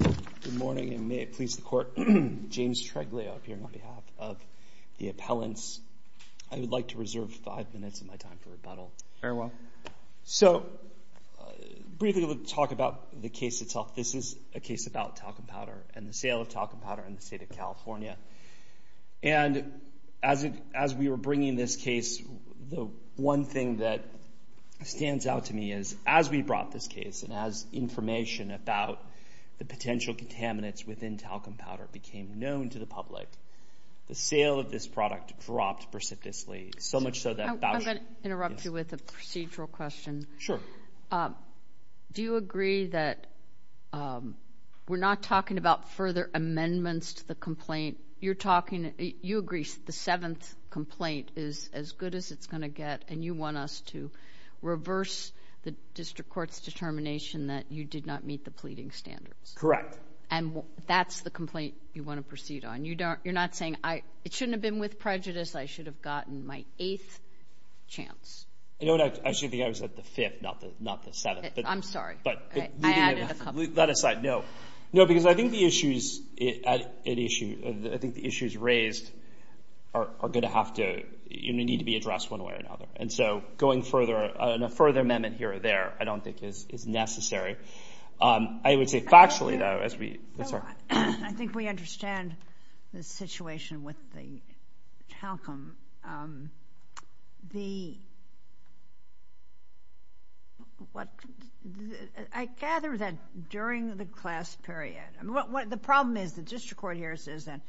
Good morning and may it please the court, James Treglia appearing on behalf of the appellants. I would like to reserve five minutes of my time for rebuttal. Very well. So, briefly we'll talk about the case itself. This is a case about talcum powder and the sale of talcum powder in the state of California. And as we were bringing this case, the one thing that stands out to me is as we brought this case and as information about the potential contaminants within talcum powder became known to the public, the sale of this product dropped precipitously. I'm going to interrupt you with a procedural question. Sure. Do you agree that we're not talking about further amendments to the complaint? You're talking, you agree the seventh complaint is as good as it's going to get and you want us to reverse the district court's determination that you did not meet the pleading standards. Correct. And that's the complaint you want to proceed on. You're not saying, it shouldn't have been with prejudice, I should have gotten my eighth chance. Actually, I think I was at the fifth, not the seventh. I'm sorry. I added a couple. That aside, no. No, because I think the issues raised are going to have to, need to be addressed one way or another. And so, going further, a further amendment here or there I don't think is necessary. I would say factually, though, as we. I think we understand the situation with the talcum. The, what, I gather that during the class period, the problem is the district court hears is that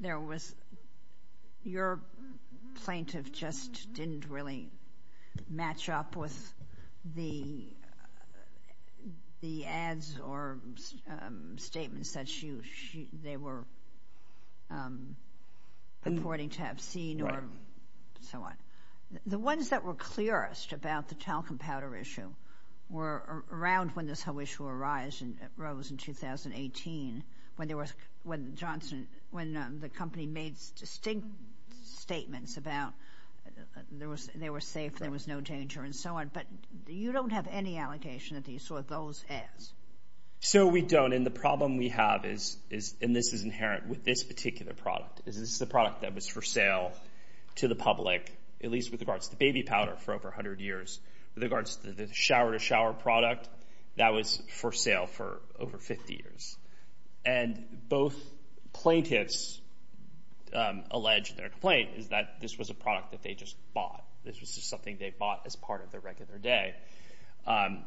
there was, your plaintiff just didn't really match up with the ads or statements that she, they were reporting to have seen or so on. The ones that were clearest about the talcum powder issue were around when this whole issue arose in 2018, when there was, when Johnson, when the company made distinct statements about there was, they were safe, there was no danger and so on. But you don't have any allegation that you saw those ads. So we don't. And the problem we have is, and this is inherent with this particular product, is this is a product that was for sale to the public, at least with regards to baby powder, for over 100 years. With regards to the shower-to-shower product, that was for sale for over 50 years. And both plaintiffs allege their complaint is that this was a product that they just bought. This was just something they bought as part of their regular day. And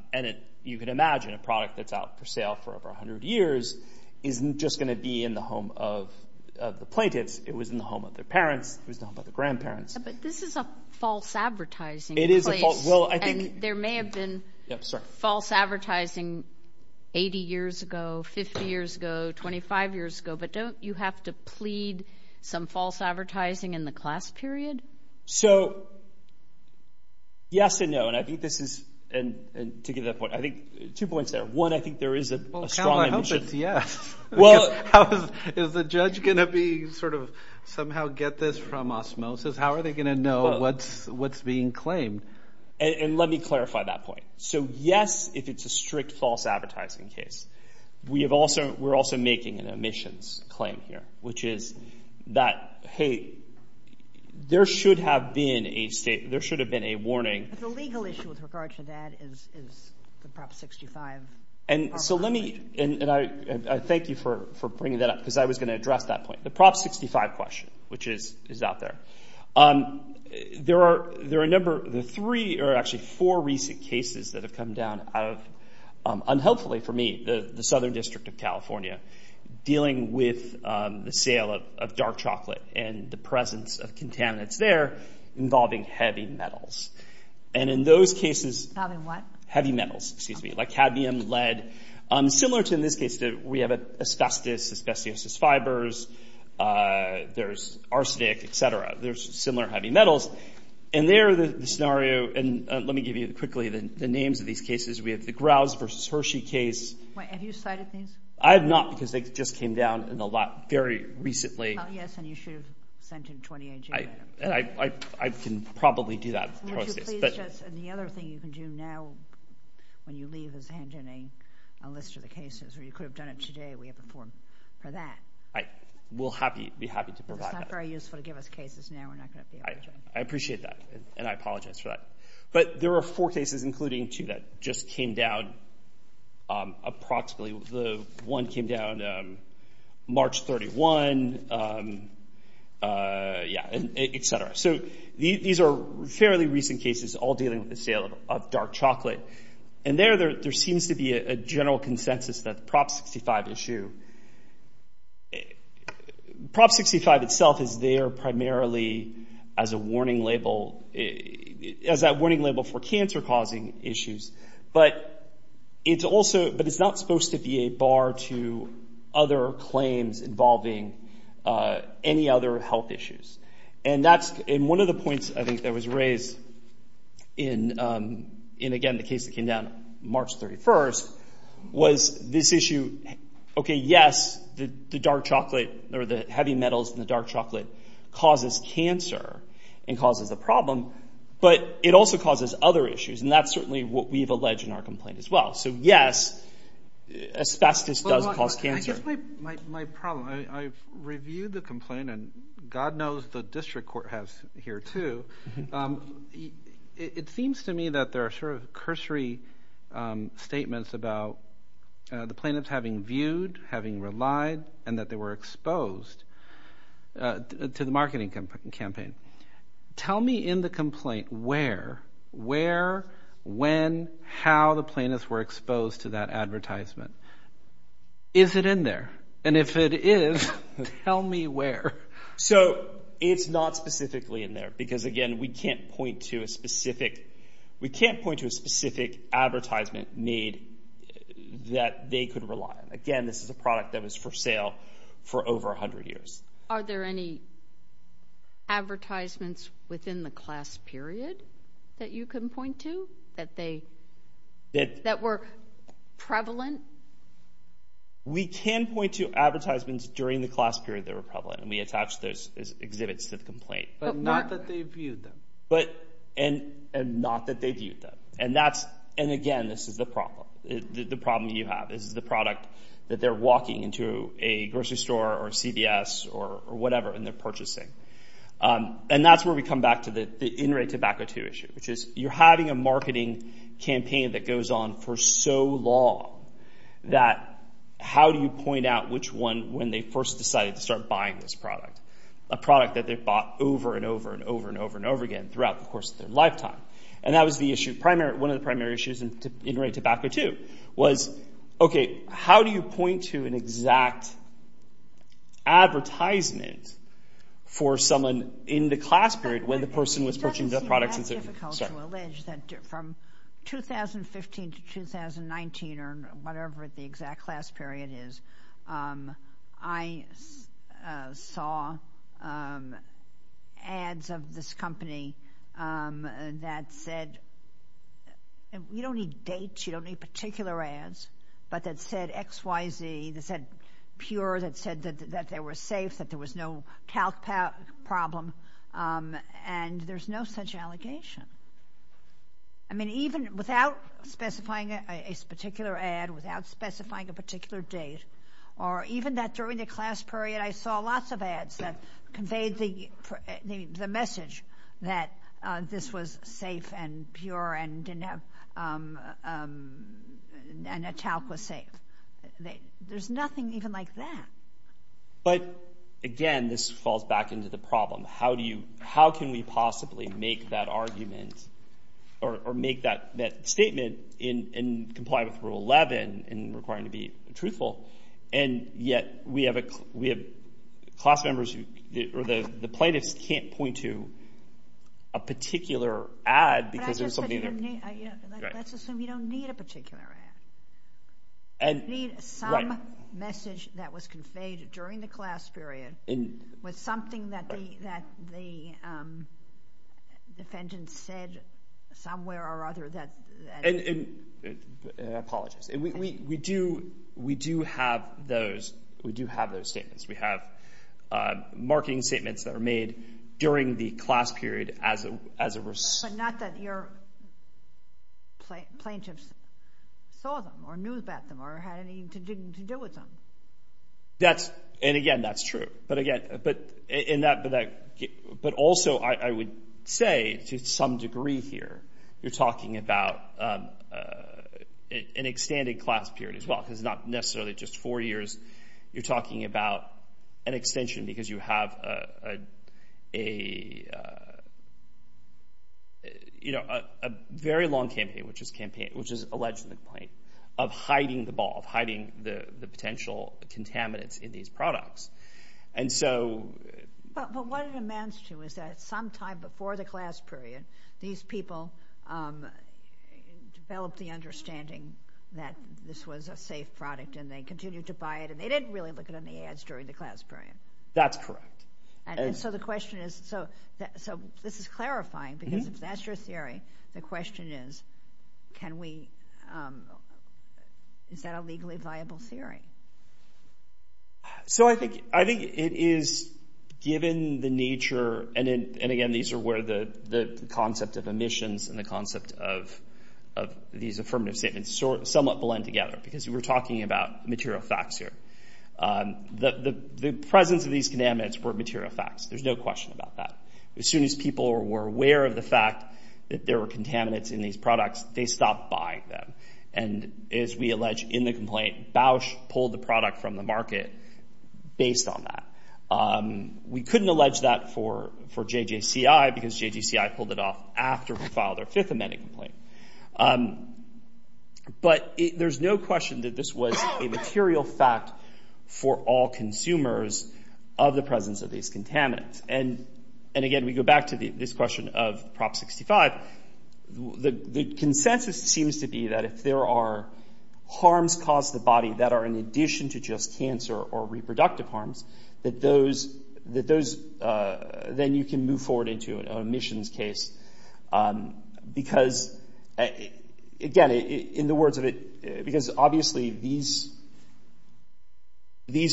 you can imagine a product that's out for sale for over 100 years isn't just going to be in the home of the plaintiffs. It was in the home of their parents. It was in the home of their grandparents. But this is a false advertising place. It is a false, well, I think. And there may have been false advertising 80 years ago, 50 years ago, 25 years ago. But don't you have to plead some false advertising in the class period? So yes and no. And I think this is – and to give that point, I think – two points there. One, I think there is a strong emission. Well, count our hopes. Yes. Is the judge going to be sort of somehow get this from osmosis? How are they going to know what's being claimed? And let me clarify that point. So yes, if it's a strict false advertising case. We're also making an emissions claim here, which is that, hey, there should have been a state – there should have been a warning. But the legal issue with regard to that is the Prop 65. And so let me – and I thank you for bringing that up because I was going to address that point. The Prop 65 question, which is out there. There are a number – the three – or actually four recent cases that have come down out of – unhelpfully for me, the Southern District of California dealing with the sale of dark chocolate and the presence of contaminants there involving heavy metals. And in those cases – Involving what? Heavy metals. Excuse me. Like cadmium, lead. Similar to in this case that we have asbestos, asbestos is fibers. There's arsenic, et cetera. There's similar heavy metals. And there the scenario – and let me give you quickly the names of these cases. We have the Grouse versus Hershey case. Wait. Have you cited these? I have not because they just came down in a lot very recently. Yes, and you should have sent in 28 June. And I can probably do that process. Would you please just – and the other thing you can do now when you leave is hand in a list of the cases, or you could have done it today. We have a form for that. We'll be happy to provide that. It's not very useful to give us cases now. We're not going to be able to. I appreciate that, and I apologize for that. But there are four cases, including two, that just came down approximately. The one came down March 31, et cetera. So these are fairly recent cases, all dealing with the sale of dark chocolate. And there, there seems to be a general consensus that the Prop 65 issue – Prop 65 itself is there primarily as a warning label, as that warning label for cancer-causing issues. But it's also – but it's not supposed to be a bar to other claims involving any other health issues. And that's – and one of the points, I think, that was raised in, again, the case that came down March 31 was this issue. Okay, yes, the dark chocolate or the heavy metals in the dark chocolate causes cancer and causes a problem, but it also causes other issues, and that's certainly what we've alleged in our complaint as well. So, yes, asbestos does cause cancer. I guess my problem – I've reviewed the complaint, and God knows the district court has here too. It seems to me that there are sort of cursory statements about the plaintiffs having viewed, having relied, and that they were exposed to the marketing campaign. Tell me in the complaint where, where, when, how the plaintiffs were exposed to that advertisement. Is it in there? And if it is, tell me where. So it's not specifically in there because, again, we can't point to a specific – we can't point to a specific advertisement need that they could rely on. Again, this is a product that was for sale for over 100 years. Are there any advertisements within the class period that you can point to that they – that were prevalent? We can point to advertisements during the class period that were prevalent, and we attach those exhibits to the complaint. But not that they viewed them. But – and not that they viewed them. And that's – and, again, this is the problem. The problem that you have is the product that they're walking into a grocery store or a CVS or whatever, and they're purchasing. And that's where we come back to the in-rate tobacco too issue, which is you're having a marketing campaign that goes on for so long that how do you point out which one when they first decided to start buying this product, a product that they've bought over and over and over and over and over again throughout the course of their lifetime? And that was the issue. One of the primary issues in in-rate tobacco too was, okay, how do you point to an exact advertisement for someone in the class period when the person was purchasing the product? It doesn't seem that difficult to allege that from 2015 to 2019 or whatever the exact class period is, I saw ads of this company that said – you don't need dates. You don't need particular ads. But that said XYZ, that said pure, that said that they were safe, that there was no calc problem. And there's no such allegation. I mean, even without specifying a particular ad, without specifying a particular date, or even that during the class period I saw lots of ads that conveyed the message that this was safe and pure and didn't have – and a talc was safe. There's nothing even like that. But, again, this falls back into the problem. How do you – how can we possibly make that argument or make that statement in compliance with Rule 11 and requiring it to be truthful? And yet we have class members who – or the plaintiffs can't point to a particular ad because there's something – But I just said you don't need – let's assume you don't need a particular ad. You need some message that was conveyed during the class period with something that the defendant said somewhere or other that – Apologies. We do have those statements. We have marketing statements that are made during the class period as a – But not that your plaintiffs saw them or knew about them or had anything to do with them. That's – and, again, that's true. But, again – but in that – but also I would say to some degree here you're talking about an extended class period as well because it's not necessarily just four years. You're talking about an extension because you have a very long campaign, which is alleged in the complaint, of hiding the ball, of hiding the potential contaminants in these products. And so – But what it amounts to is that sometime before the class period, these people developed the understanding that this was a safe product and they continued to buy it and they didn't really look at any ads during the class period. That's correct. And so the question is – so this is clarifying because if that's your theory, the question is can we – is that a legally viable theory? So I think it is given the nature – and, again, these are where the concept of omissions and the concept of these affirmative statements somewhat blend together because we're talking about material facts here. The presence of these contaminants were material facts. There's no question about that. As soon as people were aware of the fact that there were contaminants in these products, they stopped buying them. And as we allege in the complaint, Bausch pulled the product from the market based on that. We couldn't allege that for JJCI because JJCI pulled it off after we filed our fifth amendment complaint. But there's no question that this was a material fact for all consumers of the presence of these contaminants. And, again, we go back to this question of Prop 65. The consensus seems to be that if there are harms caused to the body that are in addition to just cancer or reproductive harms, that those – then you can move forward into an omissions case because, again, in the words of it – because, obviously, these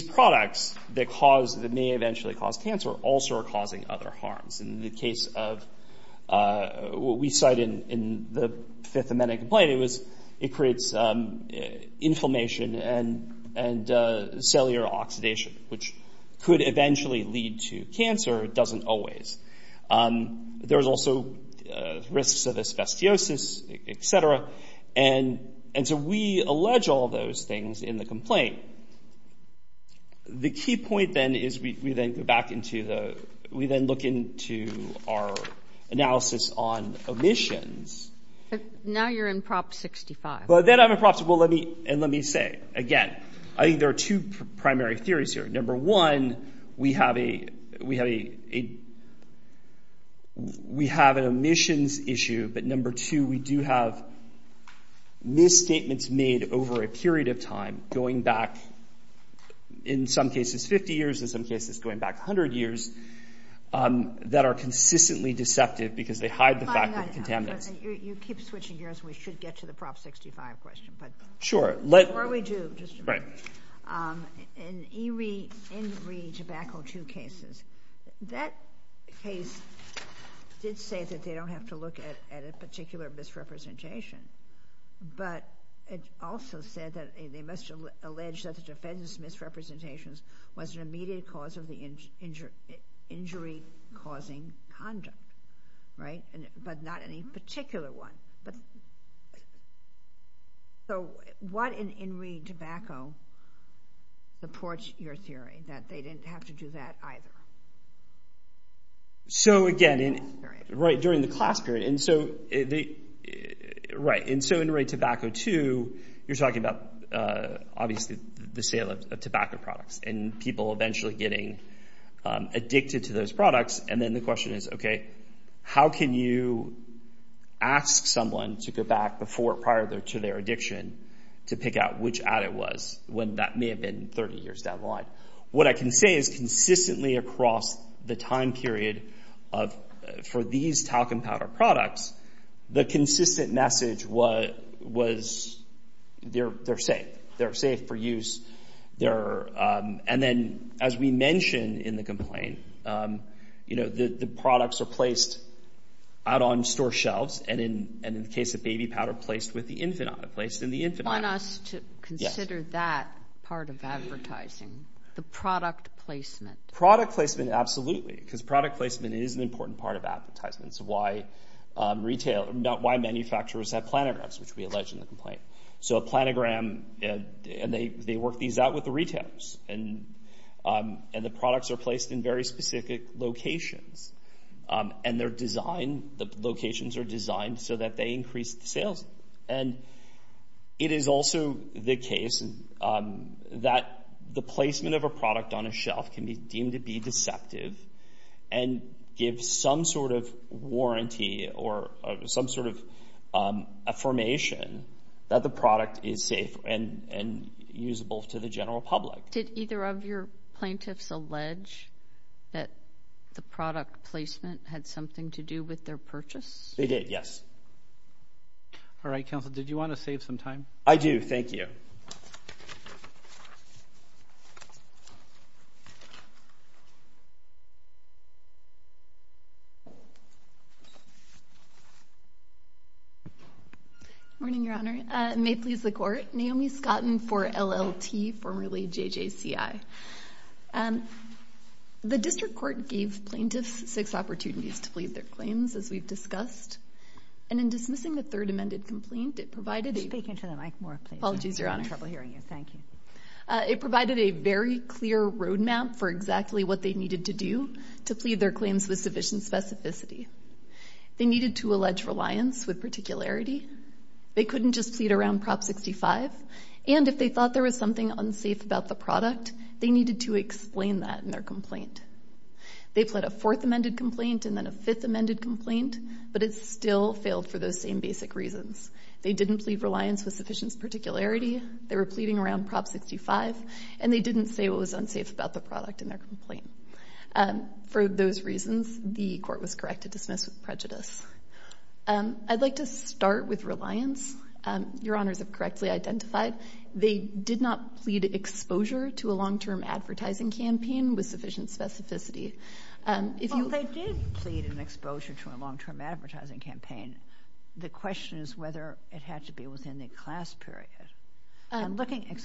products that cause – that may eventually cause cancer also are causing other harms. In the case of what we cite in the fifth amendment complaint, it was – it creates inflammation and cellular oxidation, which could eventually lead to cancer. It doesn't always. There's also risks of asbestosis, et cetera. And so we allege all those things in the complaint. The key point, then, is we then go back into the – we then look into our analysis on omissions. But now you're in Prop 65. But then I'm in Prop 65. Well, let me – and let me say, again, I think there are two primary theories here. Number one, we have a – we have an omissions issue. But, number two, we do have misstatements made over a period of time, going back in some cases 50 years, in some cases going back 100 years, that are consistently deceptive because they hide the fact that it contaminates. You keep switching gears. We should get to the Prop 65 question. Sure. Or we do. Right. In Enri Tabacco 2 cases, that case did say that they don't have to look at a particular misrepresentation. But it also said that they must allege that the defendant's misrepresentations was an immediate cause of the injury-causing conduct, right? But not any particular one. So what in Enri Tobacco supports your theory that they didn't have to do that either? So, again, right during the class period. And so – right. And so Enri Tobacco 2, you're talking about, obviously, the sale of tobacco products and people eventually getting addicted to those products. And then the question is, okay, how can you ask someone to go back prior to their addiction to pick out which ad it was when that may have been 30 years down the line? What I can say is consistently across the time period for these talcum powder products, the consistent message was they're safe. They're safe for use. And then, as we mentioned in the complaint, the products are placed out on store shelves and, in the case of baby powder, placed with the infant on it, placed in the infant bag. You want us to consider that part of advertising, the product placement. Product placement, absolutely, because product placement is an important part of advertising. It's why retailers – why manufacturers have planograms, which we allege in the complaint. So a planogram – and they work these out with the retailers. And the products are placed in very specific locations. And they're designed – the locations are designed so that they increase the sales. And it is also the case that the placement of a product on a shelf can be deemed to be deceptive and give some sort of warranty or some sort of affirmation that the product is safe and usable to the general public. Did either of your plaintiffs allege that the product placement had something to do with their purchase? They did, yes. All right, counsel, did you want to save some time? I do, thank you. Good morning, Your Honor. It may please the Court. Naomi Scotten for LLT, formerly JJCI. The district court gave plaintiffs six opportunities to plead their claims, as we've discussed. And in dismissing the third amended complaint, it provided a – Speak into the mic more, please. Apologies, Your Honor. I'm having trouble hearing you. Thank you. It provided a very clear roadmap for exactly what they needed to do to plead their claims with sufficient specificity. They needed to allege reliance with particularity. They couldn't just plead around Prop 65. And if they thought there was something unsafe about the product, they needed to explain that in their complaint. They pled a fourth amended complaint and then a fifth amended complaint, but it still failed for those same basic reasons. They didn't plead reliance with sufficient particularity. They were pleading around Prop 65, and they didn't say what was unsafe about the product in their complaint. For those reasons, the Court was correct to dismiss with prejudice. I'd like to start with reliance. Your Honors have correctly identified they did not plead exposure to a long-term advertising campaign with sufficient specificity. Well, they did plead an exposure to a long-term advertising campaign. The question is whether it had to be within the class period. I'm looking at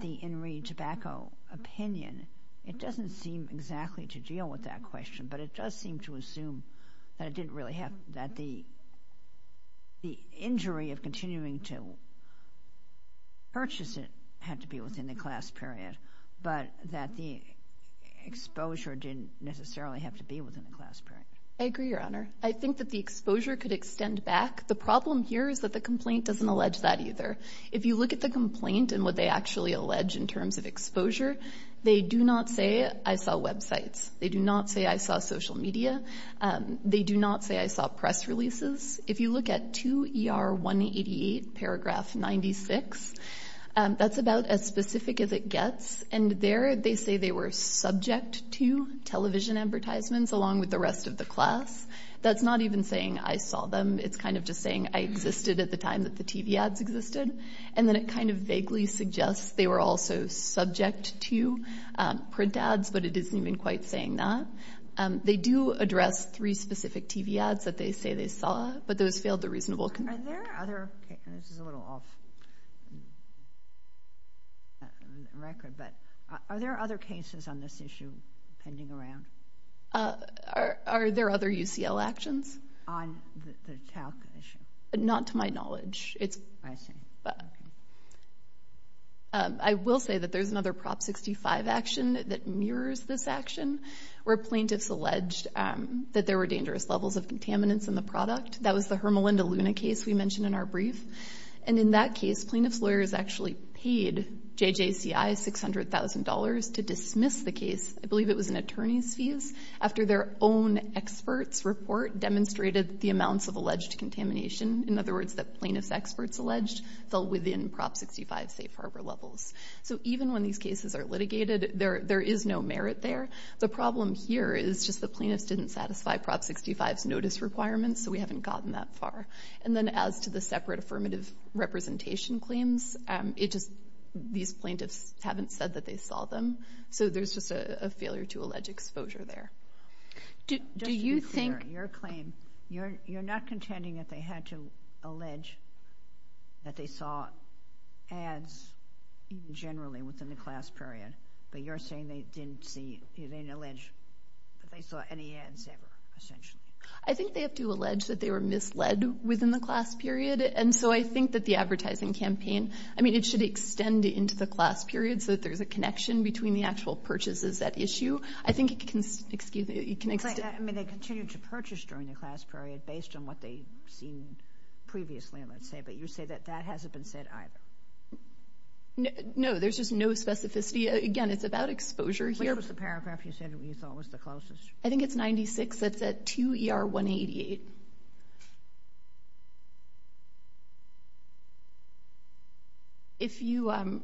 the In Re Tobacco opinion. It doesn't seem exactly to deal with that question, but it does seem to assume that the injury of continuing to purchase it had to be within the class period, but that the exposure didn't necessarily have to be within the class period. I agree, Your Honor. I think that the exposure could extend back. The problem here is that the complaint doesn't allege that either. If you look at the complaint and what they actually allege in terms of exposure, they do not say, I saw websites. They do not say, I saw social media. They do not say, I saw press releases. If you look at 2ER188 paragraph 96, that's about as specific as it gets, and there they say they were subject to television advertisements along with the rest of the class. That's not even saying, I saw them. It's kind of just saying, I existed at the time that the TV ads existed, and then it kind of vaguely suggests they were also subject to print ads, but it isn't even quite saying that. They do address three specific TV ads that they say they saw, but those failed the reasonable complaint. This is a little off record, but are there other cases on this issue pending around? Are there other UCL actions? On the talc issue? Not to my knowledge. I see. I will say that there's another Prop 65 action that mirrors this action where plaintiffs alleged that there were dangerous levels of contaminants in the product. That was the Hermelinda Luna case we mentioned in our brief, and in that case, plaintiffs' lawyers actually paid JJCI $600,000 to dismiss the case. I believe it was an attorney's fees after their own expert's report demonstrated the amounts of alleged contamination. In other words, the plaintiff's experts alleged fell within Prop 65 safe harbor levels. So even when these cases are litigated, there is no merit there. The problem here is just the plaintiffs didn't satisfy Prop 65's notice requirements, so we haven't gotten that far. And then as to the separate affirmative representation claims, these plaintiffs haven't said that they saw them, so there's just a failure to allege exposure there. Just to be clear, your claim, you're not contending that they had to allege that they saw ads generally within the class period, but you're saying they didn't see, they didn't allege that they saw any ads ever, essentially. I think they have to allege that they were misled within the class period, and so I think that the advertising campaign, I mean, it should extend into the class period so that there's a connection between the actual purchases at issue. I think it can extend. I mean, they continued to purchase during the class period based on what they'd seen previously, let's say, but you say that that hasn't been said either. No, there's just no specificity. Again, it's about exposure here. Which was the paragraph you said you thought was the closest? I think it's 96. It's at 2ER188.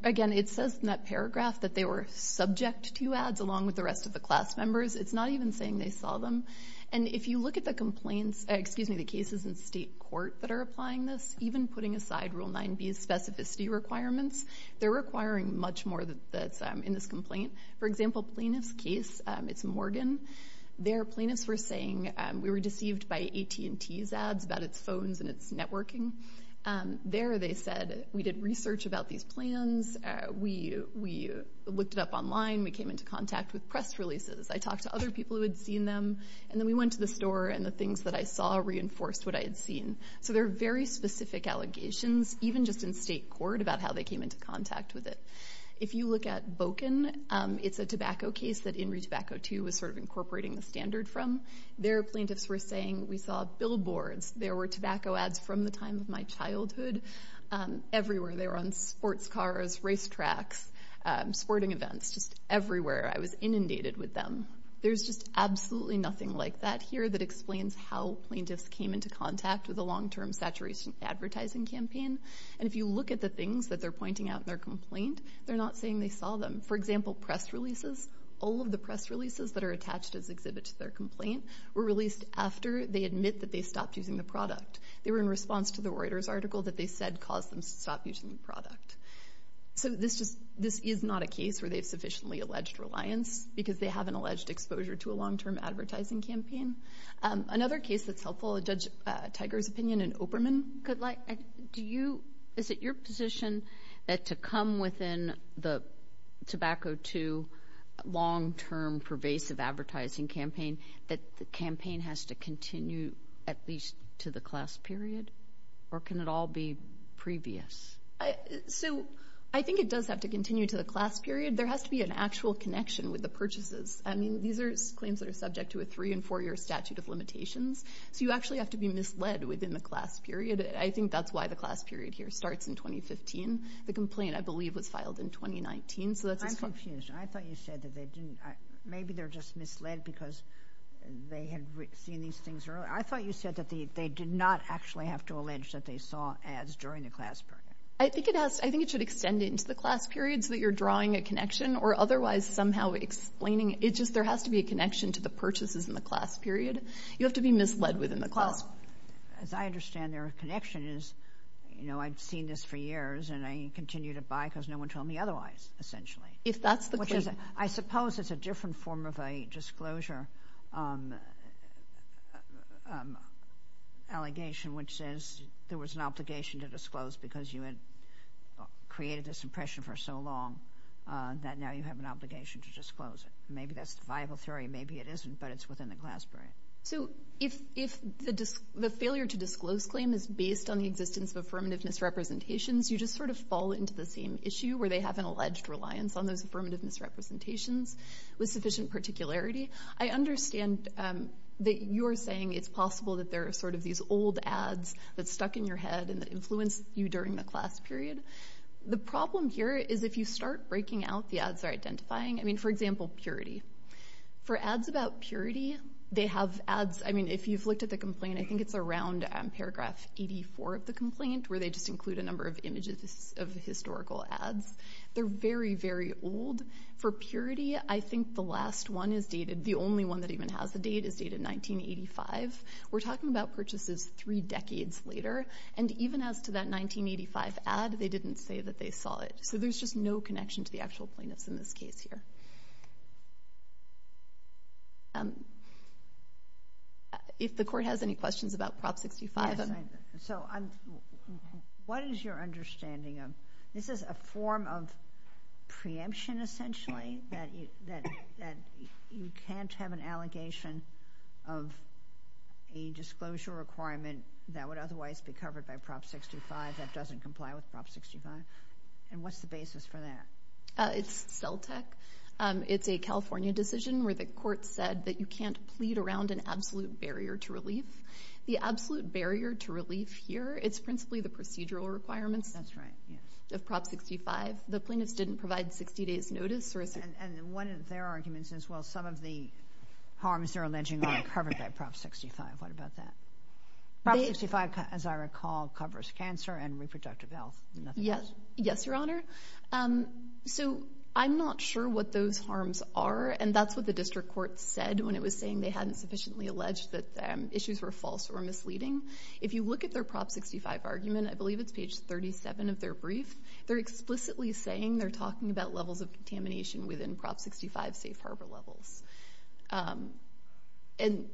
Again, it says in that paragraph that they were subject to ads along with the rest of the class members. It's not even saying they saw them. And if you look at the cases in state court that are applying this, even putting aside Rule 9b's specificity requirements, they're requiring much more that's in this complaint. For example, plaintiff's case, it's Morgan. There, plaintiffs were saying we were deceived by AT&T's ads about its phones and its networking. There, they said we did research about these plans. We looked it up online. We came into contact with press releases. I talked to other people who had seen them, and then we went to the store, and the things that I saw reinforced what I had seen. So there are very specific allegations, even just in state court, about how they came into contact with it. If you look at Boken, it's a tobacco case that In Re Tobacco 2 was sort of incorporating the standard from. There, plaintiffs were saying we saw billboards. There were tobacco ads from the time of my childhood everywhere. They were on sports cars, racetracks, sporting events, just everywhere. I was inundated with them. There's just absolutely nothing like that here that explains how plaintiffs came into contact with a long-term saturation advertising campaign. And if you look at the things that they're pointing out in their complaint, they're not saying they saw them. For example, press releases, all of the press releases that are attached as exhibits to their complaint were released after they admit that they stopped using the product. They were in response to the Reuters article that they said caused them to stop using the product. So this is not a case where they have sufficiently alleged reliance because they have an alleged exposure to a long-term advertising campaign. Another case that's helpful, Judge Tiger's opinion, and Operman, is it your position that to come within the Tobacco 2 long-term pervasive advertising campaign that the campaign has to continue at least to the class period, or can it all be previous? So I think it does have to continue to the class period. There has to be an actual connection with the purchases. I mean, these are claims that are subject to a three- and four-year statute of limitations. So you actually have to be misled within the class period. I think that's why the class period here starts in 2015. The complaint, I believe, was filed in 2019. I'm confused. I thought you said that they didn't. Maybe they're just misled because they had seen these things earlier. I thought you said that they did not actually have to allege that they saw ads during the class period. I think it should extend into the class period so that you're drawing a connection or otherwise somehow explaining it. It's just there has to be a connection to the purchases in the class period. You have to be misled within the class period. As I understand their connection is, you know, I've seen this for years, and I continue to buy because no one told me otherwise, essentially. If that's the claim. I suppose it's a different form of a disclosure allegation, which says there was an obligation to disclose because you had created this impression for so long that now you have an obligation to disclose it. Maybe that's the viable theory. Maybe it isn't, but it's within the class period. So if the failure to disclose claim is based on the existence of affirmative misrepresentations, you just sort of fall into the same issue where they have an alleged reliance on those affirmative misrepresentations with sufficient particularity. I understand that you're saying it's possible that there are sort of these old ads that stuck in your head and influenced you during the class period. The problem here is if you start breaking out the ads or identifying, I mean, for example, purity. For ads about purity, they have ads. I mean, if you've looked at the complaint, I think it's around paragraph 84 of the complaint where they just include a number of images of historical ads. They're very, very old. For purity, I think the last one is dated, the only one that even has the date, is dated 1985. We're talking about purchases three decades later. And even as to that 1985 ad, they didn't say that they saw it. So there's just no connection to the actual plaintiffs in this case here. If the Court has any questions about Prop 65. Yes. So what is your understanding of this is a form of preemption, essentially, that you can't have an allegation of a disclosure requirement that would otherwise be covered by Prop 65 that doesn't comply with Prop 65? And what's the basis for that? It's CELTEC. It's a California decision where the Court said that you can't plead around an absolute barrier to relief. The absolute barrier to relief here, it's principally the procedural requirements of Prop 65. The plaintiffs didn't provide 60 days notice. And one of their arguments is, well, some of the harms they're alleging aren't covered by Prop 65. What about that? Prop 65, as I recall, covers cancer and reproductive health. Yes, Your Honor. So I'm not sure what those harms are, and that's what the district court said when it was saying they hadn't sufficiently alleged that issues were false or misleading. If you look at their Prop 65 argument, I believe it's page 37 of their brief, they're explicitly saying they're talking about levels of contamination within Prop 65 safe harbor levels. And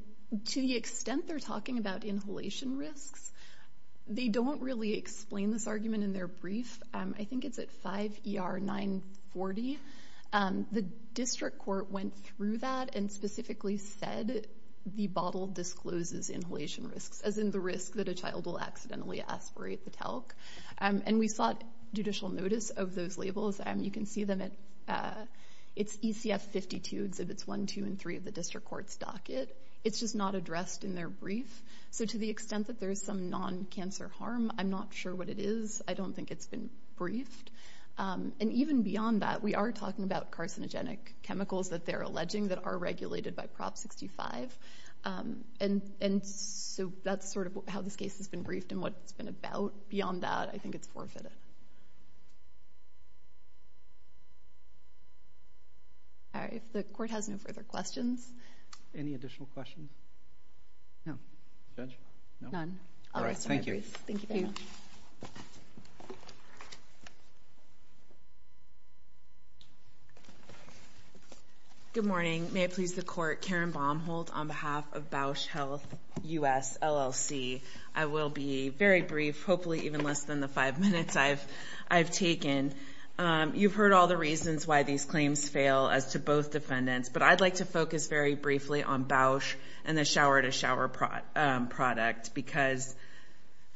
to the extent they're talking about inhalation risks, they don't really explain this argument in their brief. I think it's at 5 ER 940. The district court went through that and specifically said the bottle discloses inhalation risks, as in the risk that a child will accidentally aspirate the talc. And we sought judicial notice of those labels. You can see them at ECF 52 exhibits 1, 2, and 3 of the district court's docket. It's just not addressed in their brief. So to the extent that there is some non-cancer harm, I'm not sure what it is. I don't think it's been briefed. And even beyond that, we are talking about carcinogenic chemicals that they're alleging that are regulated by Prop 65. And so that's sort of how this case has been briefed and what it's been about. Beyond that, I think it's forfeited. All right. If the court has no further questions. Any additional questions? No. Judge? None. All right. Thank you. Thank you. Good morning. May it please the court. Karen Baumholt on behalf of Bausch Health U.S. LLC. I will be very brief, hopefully even less than the five minutes I've taken. You've heard all the reasons why these claims fail as to both defendants, but I'd like to focus very briefly on Bausch and the shower-to-shower product because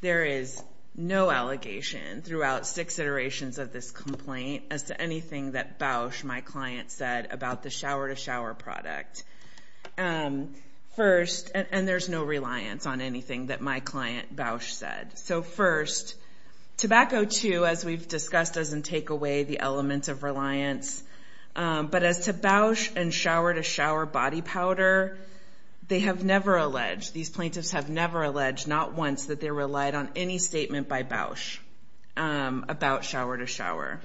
there is no allegation throughout six iterations of this complaint as to anything that Bausch, my client, said about the shower-to-shower product. First, and there's no reliance on anything that my client, Bausch, said. So first, tobacco, too, as we've discussed, doesn't take away the element of reliance. But as to Bausch and shower-to-shower body powder, they have never alleged, these plaintiffs have never alleged, not once, that they relied on any statement by Bausch about shower-to-shower.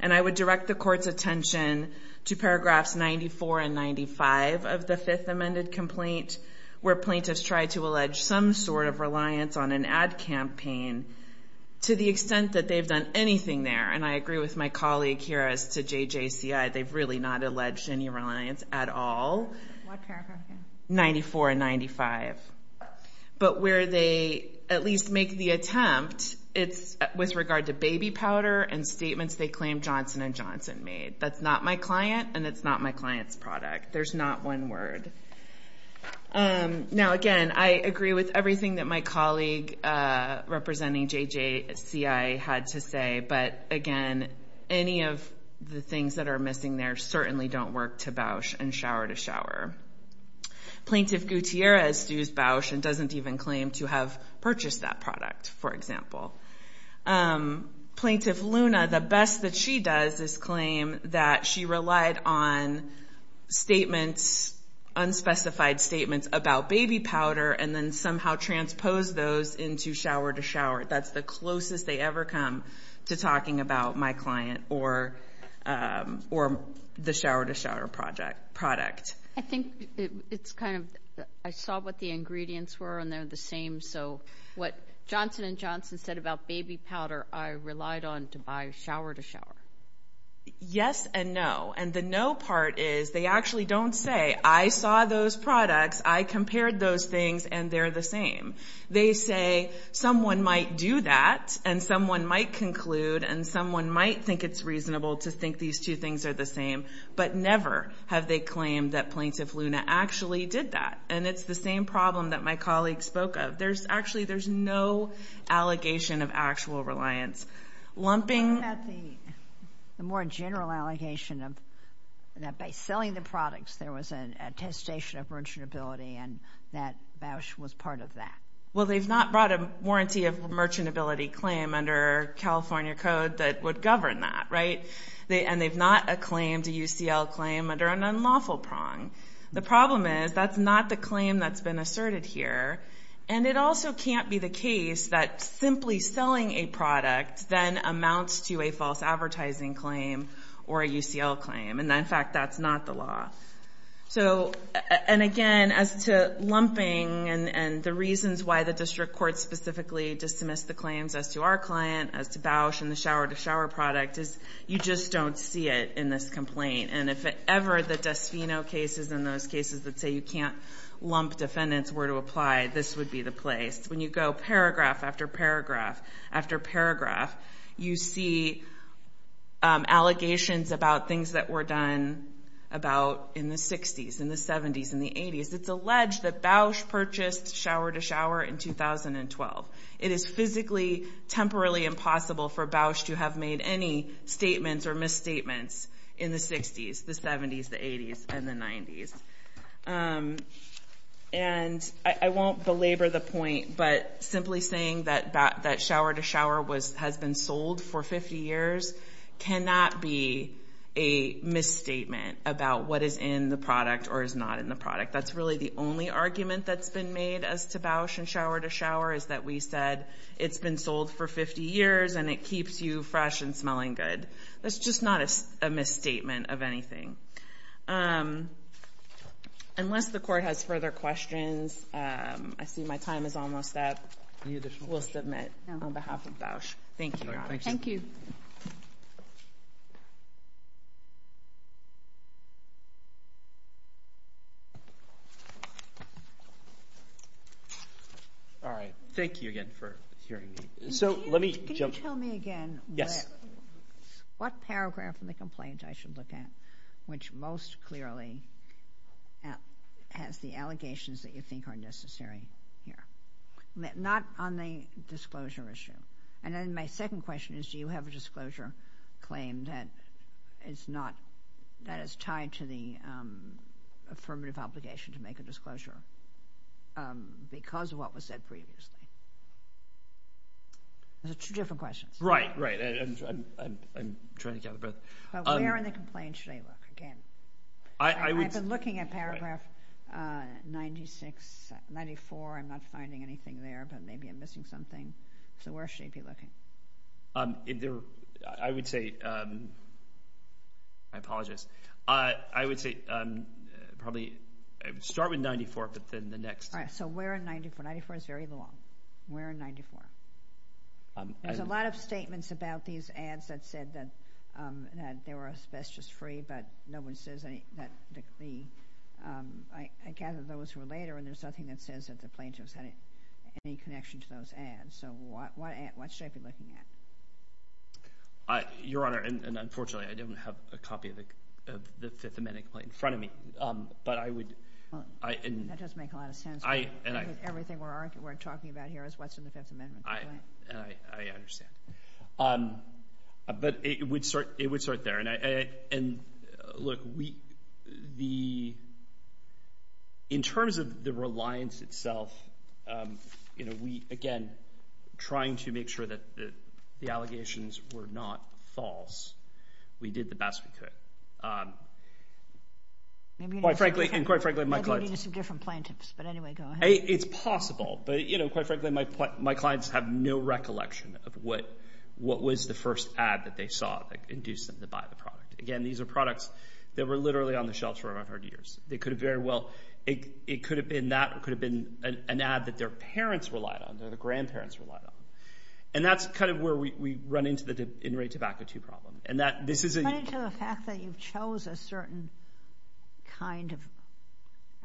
And I would direct the court's attention to paragraphs 94 and 95 of the fifth amended complaint where plaintiffs tried to allege some sort of reliance on an ad campaign to the extent that they've done anything there. And I agree with my colleague here as to JJCI. They've really not alleged any reliance at all. What paragraph? 94 and 95. But where they at least make the attempt, it's with regard to baby powder and statements they claim Johnson & Johnson made. That's not my client, and it's not my client's product. There's not one word. Now, again, I agree with everything that my colleague representing JJCI had to say. But, again, any of the things that are missing there certainly don't work to Bausch and shower-to-shower. Plaintiff Gutierrez sues Bausch and doesn't even claim to have purchased that product, for example. Plaintiff Luna, the best that she does is claim that she relied on statements, unspecified statements, about baby powder and then somehow transposed those into shower-to-shower. That's the closest they ever come to talking about my client or the shower-to-shower product. I think it's kind of I saw what the ingredients were, and they're the same. So what Johnson & Johnson said about baby powder, I relied on to buy shower-to-shower. Yes and no. And the no part is they actually don't say, I saw those products, I compared those things, and they're the same. They say someone might do that, and someone might conclude, and someone might think it's reasonable to think these two things are the same. But never have they claimed that Plaintiff Luna actually did that. And it's the same problem that my colleague spoke of. There's actually, there's no allegation of actual reliance. What about the more general allegation of that by selling the products there was an attestation of merchantability and that Bausch was part of that? Well, they've not brought a warranty of merchantability claim under California code that would govern that, right? And they've not acclaimed a UCL claim under an unlawful prong. The problem is that's not the claim that's been asserted here. And it also can't be the case that simply selling a product then amounts to a false advertising claim or a UCL claim. And in fact, that's not the law. So, and again, as to lumping and the reasons why the district court specifically dismissed the claims as to our client, as to Bausch and the shower-to-shower product, is you just don't see it in this complaint. And if ever the Desfino cases and those cases that say you can't lump defendants were to apply, this would be the place. When you go paragraph after paragraph after paragraph, you see allegations about things that were done about in the 60s, in the 70s, in the 80s. It's alleged that Bausch purchased shower-to-shower in 2012. It is physically, temporarily impossible for Bausch to have made any statements or misstatements in the 60s, the 70s, the 80s, and the 90s. And I won't belabor the point, but simply saying that shower-to-shower has been sold for 50 years cannot be a misstatement about what is in the product or is not in the product. That's really the only argument that's been made as to Bausch and shower-to-shower is that we said it's been sold for 50 years and it keeps you fresh and smelling good. That's just not a misstatement of anything. Unless the court has further questions, I see my time is almost up. We'll submit on behalf of Bausch. Thank you, Your Honor. Thank you. All right. Thank you again for hearing me. Can you tell me again what paragraph in the complaint I should look at which most clearly has the allegations that you think are necessary here? Not on the disclosure issue. And then my second question is do you have a disclosure claim that is tied to the affirmative obligation to make a disclosure because of what was said previously? Those are two different questions. Right, right. I'm trying to catch my breath. But where in the complaint should I look again? I've been looking at paragraph 94. I'm not finding anything there, but maybe I'm missing something. So where should I be looking? I would say – I apologize. I would say probably start with 94, but then the next – All right. So where in 94? 94 is very long. Where in 94? There's a lot of statements about these ads that said that they were asbestos-free, but no one says that the – I gather those were later, and there's nothing that says that the plaintiffs had any connection to those ads. So what should I be looking at? Your Honor, and unfortunately, I don't have a copy of the Fifth Amendment complaint in front of me, but I would – That doesn't make a lot of sense. Everything we're talking about here is what's in the Fifth Amendment complaint. I understand. But it would start there. And, look, we – in terms of the reliance itself, we, again, trying to make sure that the allegations were not false, we did the best we could. And quite frankly, my clients – Maybe you need some different plaintiffs, but anyway, go ahead. It's possible, but quite frankly, my clients have no recollection of what was the first ad that they saw that induced them to buy the product. Again, these are products that were literally on the shelves for 100 years. They could have very well – it could have been that or it could have been an ad that their parents relied on, that their grandparents relied on. And that's kind of where we run into the in-rate tobacco 2 problem. Cut into the fact that you chose a certain kind of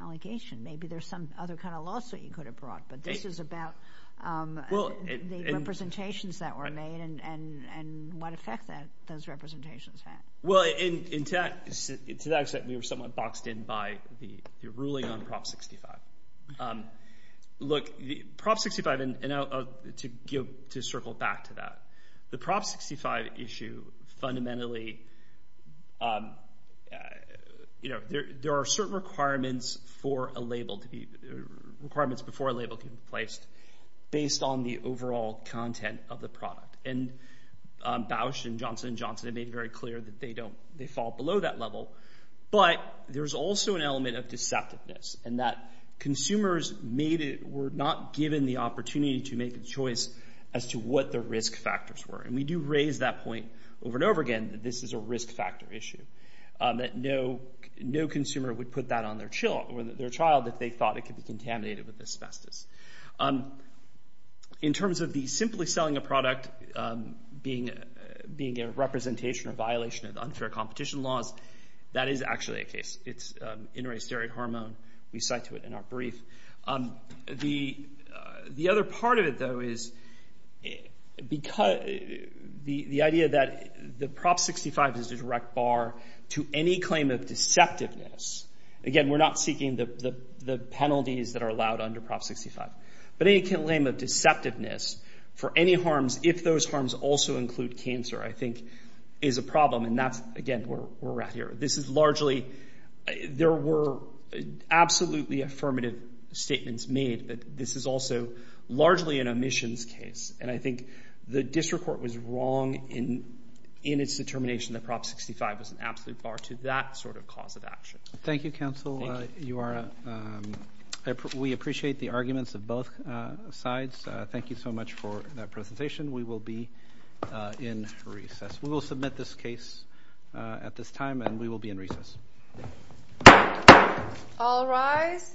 allegation. Maybe there's some other kind of lawsuit you could have brought, but this is about the representations that were made and what effect those representations had. Well, to that extent, we were somewhat boxed in by the ruling on Prop 65. Look, Prop 65 – and to circle back to that. The Prop 65 issue fundamentally – there are certain requirements for a label to be – requirements before a label can be placed based on the overall content of the product. And Bausch and Johnson & Johnson have made it very clear that they don't – they fall below that level. But there's also an element of deceptiveness in that consumers made it – were not given the opportunity to make a choice as to what the risk factors were. And we do raise that point over and over again that this is a risk factor issue, that no consumer would put that on their child if they thought it could be contaminated with asbestos. In terms of the simply selling a product being a representation or violation of unfair competition laws, that is actually a case. It's inter-asteroid hormone. We cite to it in our brief. The other part of it, though, is the idea that the Prop 65 is a direct bar to any claim of deceptiveness. Again, we're not seeking the penalties that are allowed under Prop 65. But any claim of deceptiveness for any harms, if those harms also include cancer, I think is a problem. And that's, again, where we're at here. This is largely – there were absolutely affirmative statements made, but this is also largely an omissions case. And I think the district court was wrong in its determination that Prop 65 was an absolute bar to that sort of cause of action. Thank you, counsel. Thank you. We appreciate the arguments of both sides. Thank you so much for that presentation. We will be in recess. We will submit this case at this time, and we will be in recess. All rise.